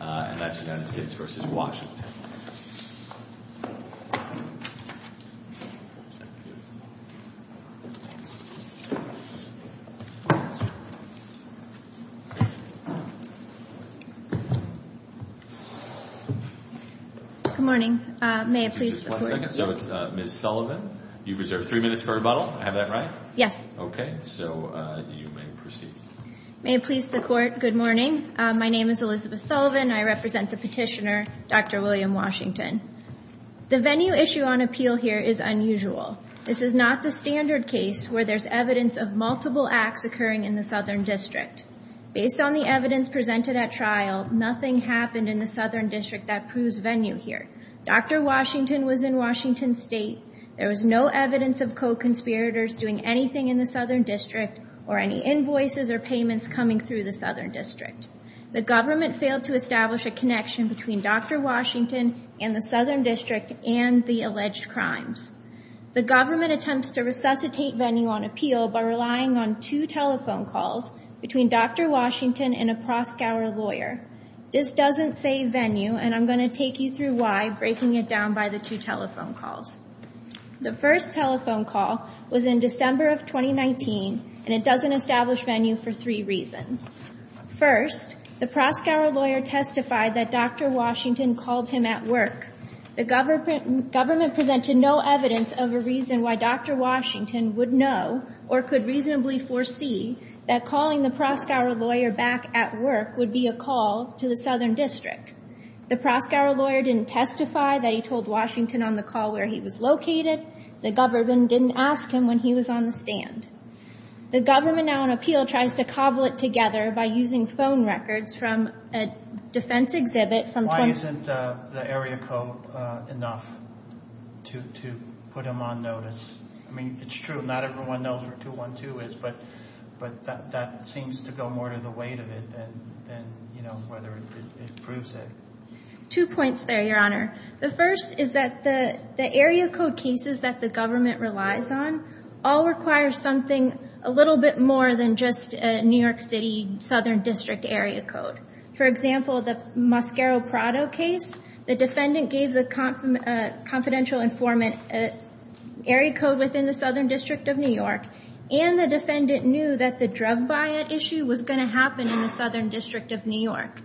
Good morning. May it please the Court. One second. So it's Ms. Sullivan. You've reserved three minutes for rebuttal. I have that right? Yes. Okay. So you may proceed. May it please the Court. Good morning. My name is Elizabeth Sullivan. I represent the petitioner, Dr. William Washington. The venue issue on appeal here is unusual. This is not the standard case where there's evidence of multiple acts occurring in the Southern District. Based on the evidence presented at trial, nothing happened in the Southern District that proves venue here. Dr. Washington was in Washington State. There was no evidence of co-conspirators doing anything in the Southern District or any invoices or payments coming through the Southern District. The government failed to establish a connection between Dr. Washington and the Southern District and the alleged crimes. The government attempts to resuscitate venue on appeal by relying on two telephone calls between Dr. Washington and a Proscauer lawyer. This doesn't say venue, and I'm going to take you through why, breaking it down by the two telephone calls. The first telephone call was in December of 2019, and it doesn't establish venue for three reasons. First, the Proscauer lawyer testified that Dr. Washington called him at work. The government presented no evidence of a reason why Dr. Washington would know or could reasonably foresee that calling the Proscauer lawyer back at work would be a call to the Southern District. The Proscauer lawyer didn't testify that he told Washington on the call where he was located. The government didn't ask him when he was on the stand. The government, now on appeal, tries to cobble it together by using phone records from a defense exhibit. Why isn't the area code enough to put him on notice? I mean, it's true, not everyone knows where 212 is, but that seems to go more to the weight of it than, you know, whether it proves it. Two points there, Your Honor. The first is that the area code cases that the government relies on all require something a little bit more than just a New York City Southern District area code. For example, the Mosquero-Prado case, the defendant gave the confidential informant area code within the Southern District of New York, and the defendant knew that the drug buyout issue was going to happen in the Southern District of New York.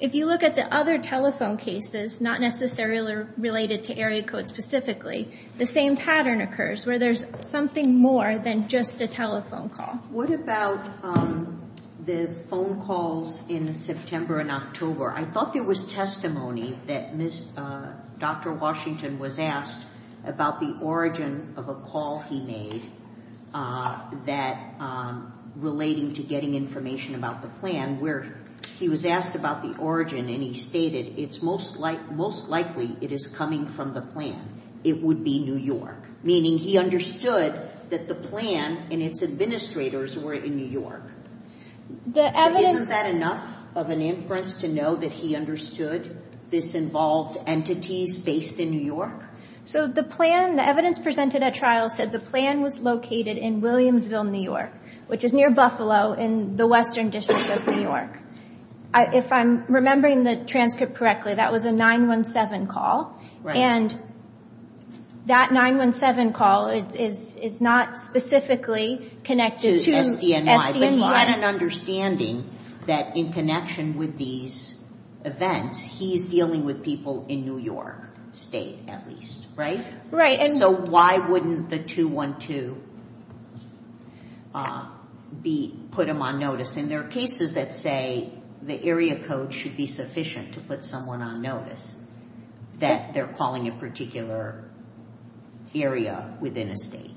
If you look at the other telephone cases, not necessarily related to area code specifically, the same pattern occurs where there's something more than just a telephone call. What about the phone calls in September and October? I thought there was testimony that Dr. Washington was asked about the origin of a call he made that, relating to getting information about the plan, where he was asked about the origin, and he stated, it's most likely it is coming from the plan. It would be New York, meaning he understood that the plan and its administrators were in New York. Isn't that enough of an inference to know that he understood this involved entities based in New York? So the plan, the evidence presented at trial said the plan was located in Williamsville, New York, which is near Buffalo in the Western District of New York. If I'm remembering the transcript correctly, that was a 9-1-7 call, and that 9-1-7 call is not specifically connected to SDNY, but he had an understanding that in connection with these events, he's dealing with people in New York State, at least, right? So why wouldn't the 2-1-2 put him on notice? And there are cases that say the area code should be sufficient to put someone on notice, that they're calling a particular area within a state.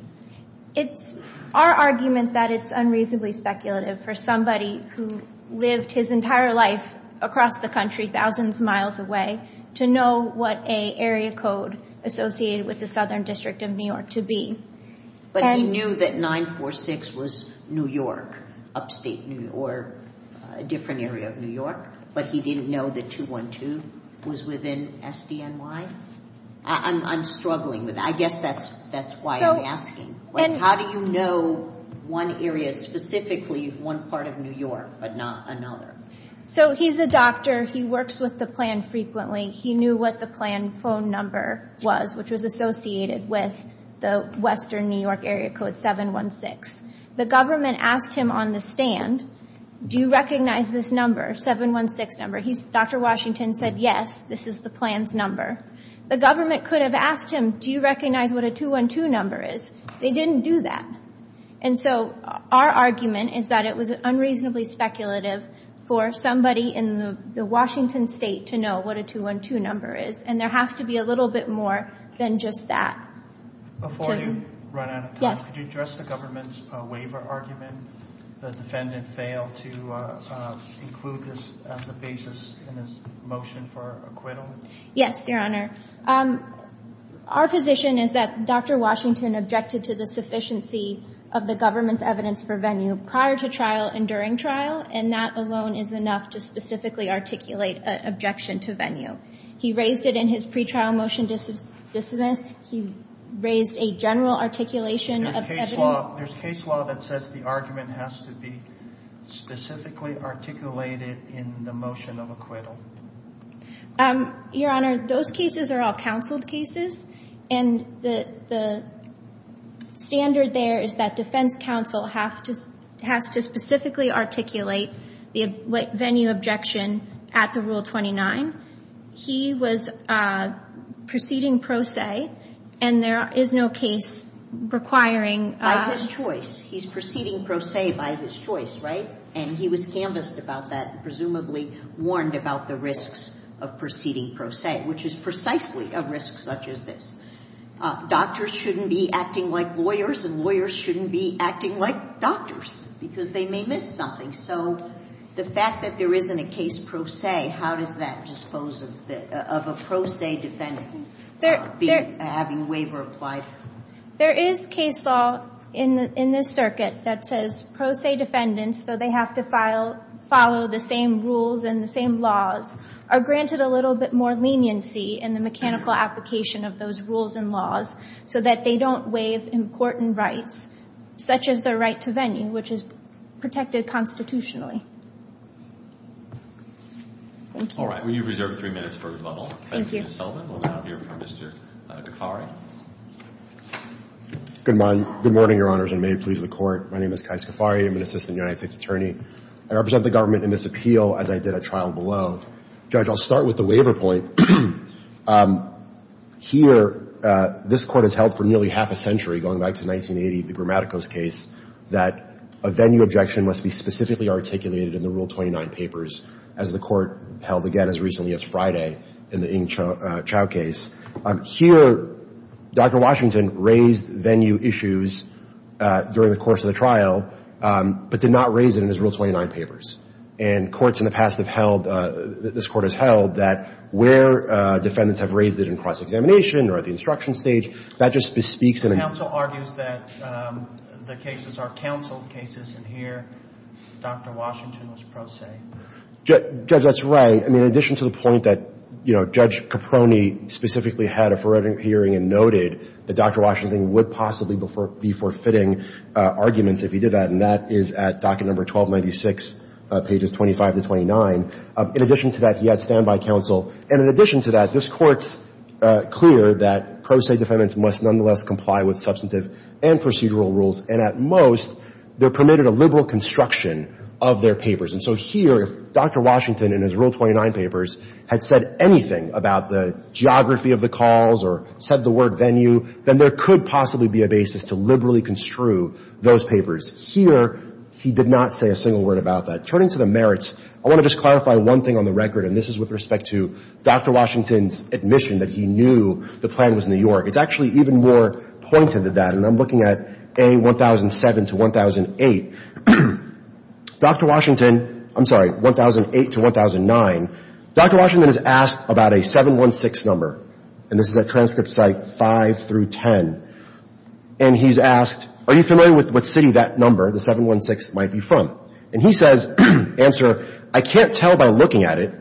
It's our argument that it's unreasonably speculative for somebody who lived his entire life across the country, thousands of miles away, to know what an area code associated with the Southern District of New York to be. But he knew that 9-4-6 was New York, upstate New York, a different area of New York, but he didn't know that 2-1-2 was within SDNY? I'm struggling with that. I guess that's why I'm asking. How do you know one area specifically, one part of New York, but not another? So he's a doctor. He works with the plan frequently. He knew what the plan phone number was, which was associated with the Western New York area code 7-1-6. The government asked him on the stand, do you recognize this number, 7-1-6 number? Dr. Washington said, yes, this is the plan's number. The government could have asked him, do you recognize what a 2-1-2 number is? They didn't do that. And so our argument is that it was unreasonably speculative for somebody in the Washington state to know what a 2-1-2 number is. And there has to be a little bit more than just that. Before you run out of time, could you address the government's waiver argument, the defendant failed to include this as a basis in his motion for acquittal? Yes, Your Honor. Our position is that Dr. Washington objected to the sufficiency of the government's evidence for venue prior to trial and during trial, and that alone is enough to specifically articulate an objection to venue. He raised it in his pre-trial motion to dismiss. He raised a general articulation of evidence. There's case law that says the argument has to be specifically articulated in the motion of acquittal. Your Honor, those cases are all counseled cases, and the standard there is that defense counsel has to specifically articulate the venue objection at the Rule 29. He was proceeding pro se, and there is no case requiring By his choice. He's proceeding pro se by his choice, right? And he was canvassed about that and presumably warned about the risks of proceeding pro se, which is precisely a risk such as this. Doctors shouldn't be acting like lawyers, and lawyers shouldn't be acting like doctors, because they may miss something. So the fact that there isn't a case pro se, how does that dispose of a pro se defendant having a waiver applied? There is case law in this circuit that says pro se defendants, though they have to follow the same rules and the same laws, are granted a little bit more leniency in the mechanical application of those rules and laws so that they don't waive important rights, such as their right to venue, which is protected constitutionally. All right. Well, you've reserved three minutes for rebuttal. Good morning, Your Honors, and may it please the Court. My name is Kai Skafari. I'm an assistant United States attorney. I represent the government in this appeal as I did at trial below. Judge, I'll start with the waiver point. Here, this Court has held for nearly half a century, going back to 1980, the Bramatico's case, that a venue objection must be specifically articulated in the Rule 29 papers as the Court raised venue issues during the course of the trial, but did not raise it in his Rule 29 papers. And courts in the past have held, this Court has held, that where defendants have raised it in cross-examination or at the instruction stage, that just bespeaks in a... The counsel argues that the cases are counseled cases, and here Dr. Washington was pro se. Judge, that's right. I mean, in addition to the point that, you know, Judge Caproni specifically had a forensic hearing and noted that Dr. Washington would possibly be forfeiting arguments if he did that, and that is at docket number 1296, pages 25 to 29. In addition to that, he had standby counsel. And in addition to that, this Court's clear that pro se defendants must nonetheless comply with substantive and procedural rules, and at most, they're permitted a liberal construction of their papers. And so here, if Dr. Washington in his Rule 29 papers had said anything about the geography of the calls or said the word venue, then there could possibly be a basis to liberally construe those papers. Here, he did not say a single word about that. Turning to the merits, I want to just clarify one thing on the record, and this is with respect to Dr. Washington's admission that he knew the plan was New York, and I'm looking at A, 1007 to 1008. Dr. Washington, I'm sorry, 1008 to 1009, Dr. Washington is asked about a 716 number, and this is at transcript site 5 through 10, and he's asked, are you familiar with what city that number, the 716, might be from? And he says, answer, I can't tell by looking at it.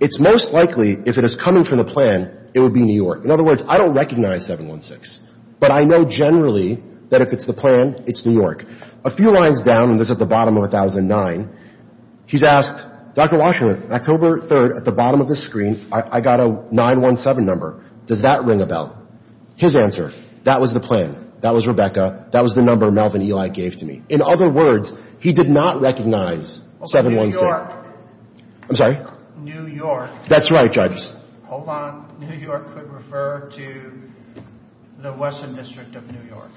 It's most likely, if it is coming from the plan, it would be New York. In other words, I don't recognize 716, but I know generally that if it's the plan, it's New York. A few lines down, and this is at the bottom of 1009, he's asked, Dr. Washington, October 3rd, at the bottom of the screen, I got a 917 number. Does that ring a bell? His answer, that was the plan. That was Rebecca. That was the number Melvin Eli gave to me. In other words, he did not recognize 716. New York. I'm sorry? New York. That's right, Judge. Hold on. New York could refer to the Western District of New York.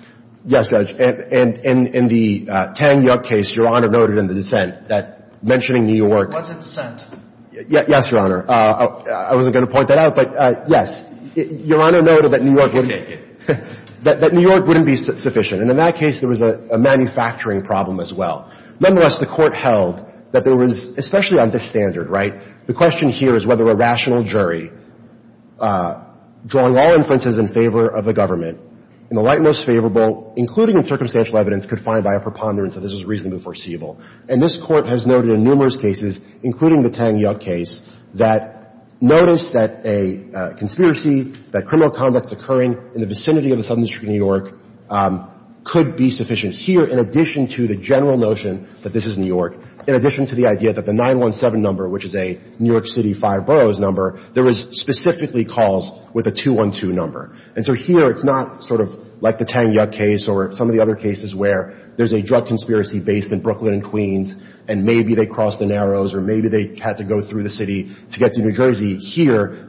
Yes, Judge. And in the Tang Yuk case, Your Honor noted in the dissent that mentioning New York. Was it dissent? Yes, Your Honor. I wasn't going to point that out, but yes. Your Honor noted that New York wouldn't be sufficient, and in that case, there was a manufacturing problem as well. Nonetheless, the Court held that there was, especially on this standard, right, the question here is whether a rational jury, drawing all inferences in favor of the government, in the light most favorable, including in circumstantial evidence, could find by a preponderance that this was reasonably foreseeable. And this Court has noted in numerous cases, including the Tang Yuk case, that notice that a conspiracy, that criminal conduct occurring in the vicinity of the Southern District of New York could be sufficient here in addition to the general notion that this is New York, in addition to the idea that the 917 number, which is a New York City five boroughs number, there was specifically calls with a 212 number. And so here, it's not sort of like the Tang Yuk case or some of the other cases where there's a drug deal, where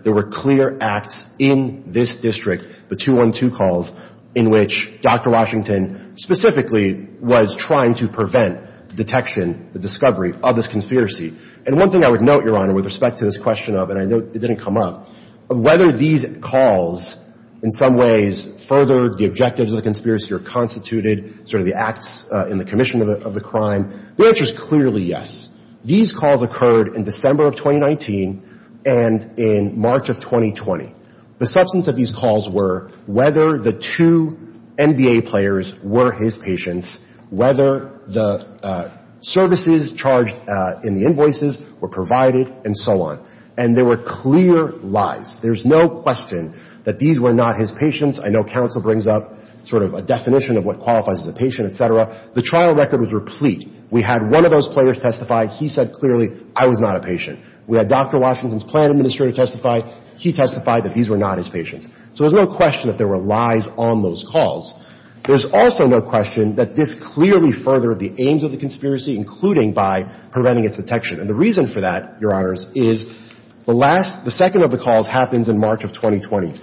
there were clear acts in this district, the 212 calls, in which Dr. Washington specifically was trying to prevent detection, the discovery of this conspiracy. And one thing I would note, Your Honor, with respect to this question of, and I know it didn't come up, of whether these calls in some ways furthered the objectives of the conspiracy or constituted sort of the acts in the commission of the crime, the answer is clearly yes. These calls occurred in December of 2019 and in March of 2020. The substance of these calls were whether the two NBA players were his patients, whether the services charged in the invoices were provided and so on. And there were clear lies. There's no question that these were not his patients. I know counsel brings up sort of a definition of what qualifies as a patient, et cetera. The trial record was replete. We had one of those players testify. He said clearly, I was not a patient. We had Dr. Washington's plan administrator testify. He testified that these were not his patients. So there's no question that there were lies on those calls. There's also no question that this clearly furthered the aims of the conspiracy, including by preventing its detection. And the reason for that, Your Honors, is the last, the second of the calls happens in March of 2020.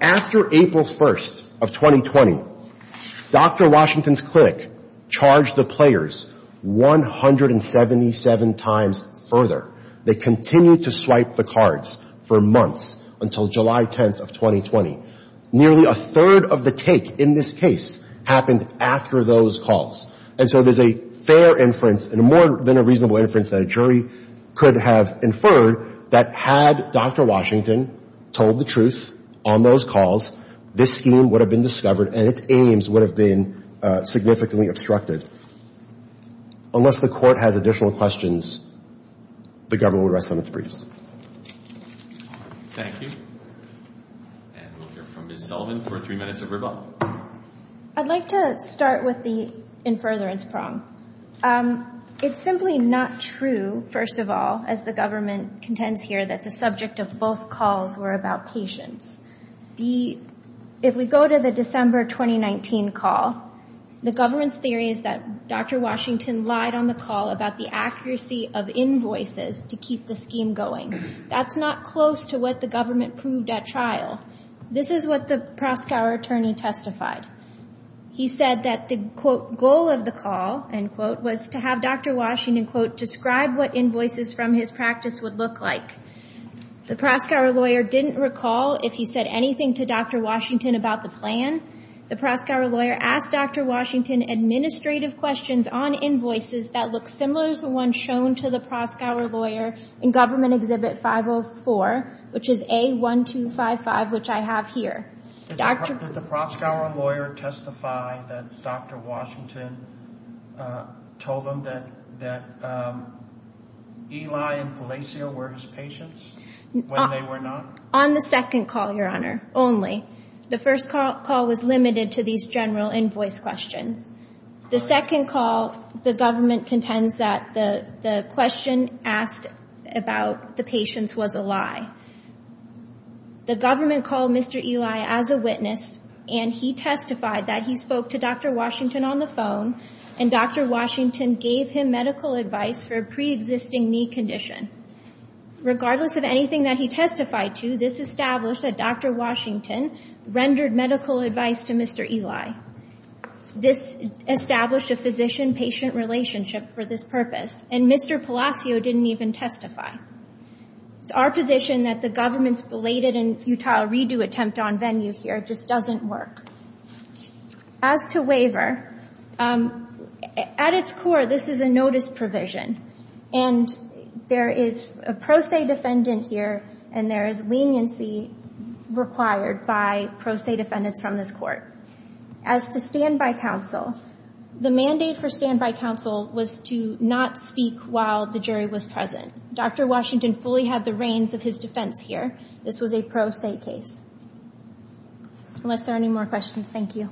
After April 1st of 2020, Dr. Washington's clinic charged the players 177 times further. They continued to swipe the cards for months until July 10th of 2020. Nearly a third of the take in this case happened after those calls. And so there's a fair inference and more than a reasonable inference that a jury could have inferred that had Dr. Washington told the truth on those calls, this scheme would have been discovered and its aims would have been significantly obstructed. Unless the court has additional questions, the government would rest on its briefs. Thank you. And we'll hear from Ms. Sullivan for three minutes of rebuttal. I'd like to start with the infuriance prong. It's simply not true, first of all, as the government contends here that the subject of both calls were about patients. If we go to the December 2019 call, the government's theory is that Dr. Washington lied on the call about the accuracy of invoices to keep the scheme going. That's not close to what the government proved at trial. This is what the Proskauer attorney testified. He said that the, quote, goal of the call, end quote, was to have Dr. Washington, quote, describe what invoices from his practice would look like. The Proskauer lawyer didn't recall if he said anything to Dr. Washington about the plan. The Proskauer lawyer asked Dr. Washington administrative questions on invoices that look similar to the ones shown to the Proskauer lawyer in Government Exhibit 504, which is A1255, which I have here. Did the Proskauer lawyer testify that Dr. Washington told him that Eli and Palacio were his patients when they were not? On the second call, Your Honor, only. The first call was limited to these general invoice questions. The second call, the government contends that the question asked about the patients was a lie. The government called Mr. Eli as a witness, and he testified that he spoke to Dr. Washington on the phone, and Dr. Washington gave him medical advice for a preexisting knee condition. Regardless of anything that he testified to, this established that Dr. Washington rendered medical advice to Mr. Eli. This established a physician-patient relationship for this purpose, and Mr. Palacio didn't even testify. It's our position that the government's belated and futile redo attempt on venue here just doesn't work. As to waiver, at its core, this is a notice provision, and there is a pro se defendant here, and there is leniency required by pro se defendants from this court. As to standby counsel, the mandate for standby counsel was to not speak while the jury was present. Dr. Washington fully had the reins of his defense here. This was a pro se case. Unless there are any more questions, thank you.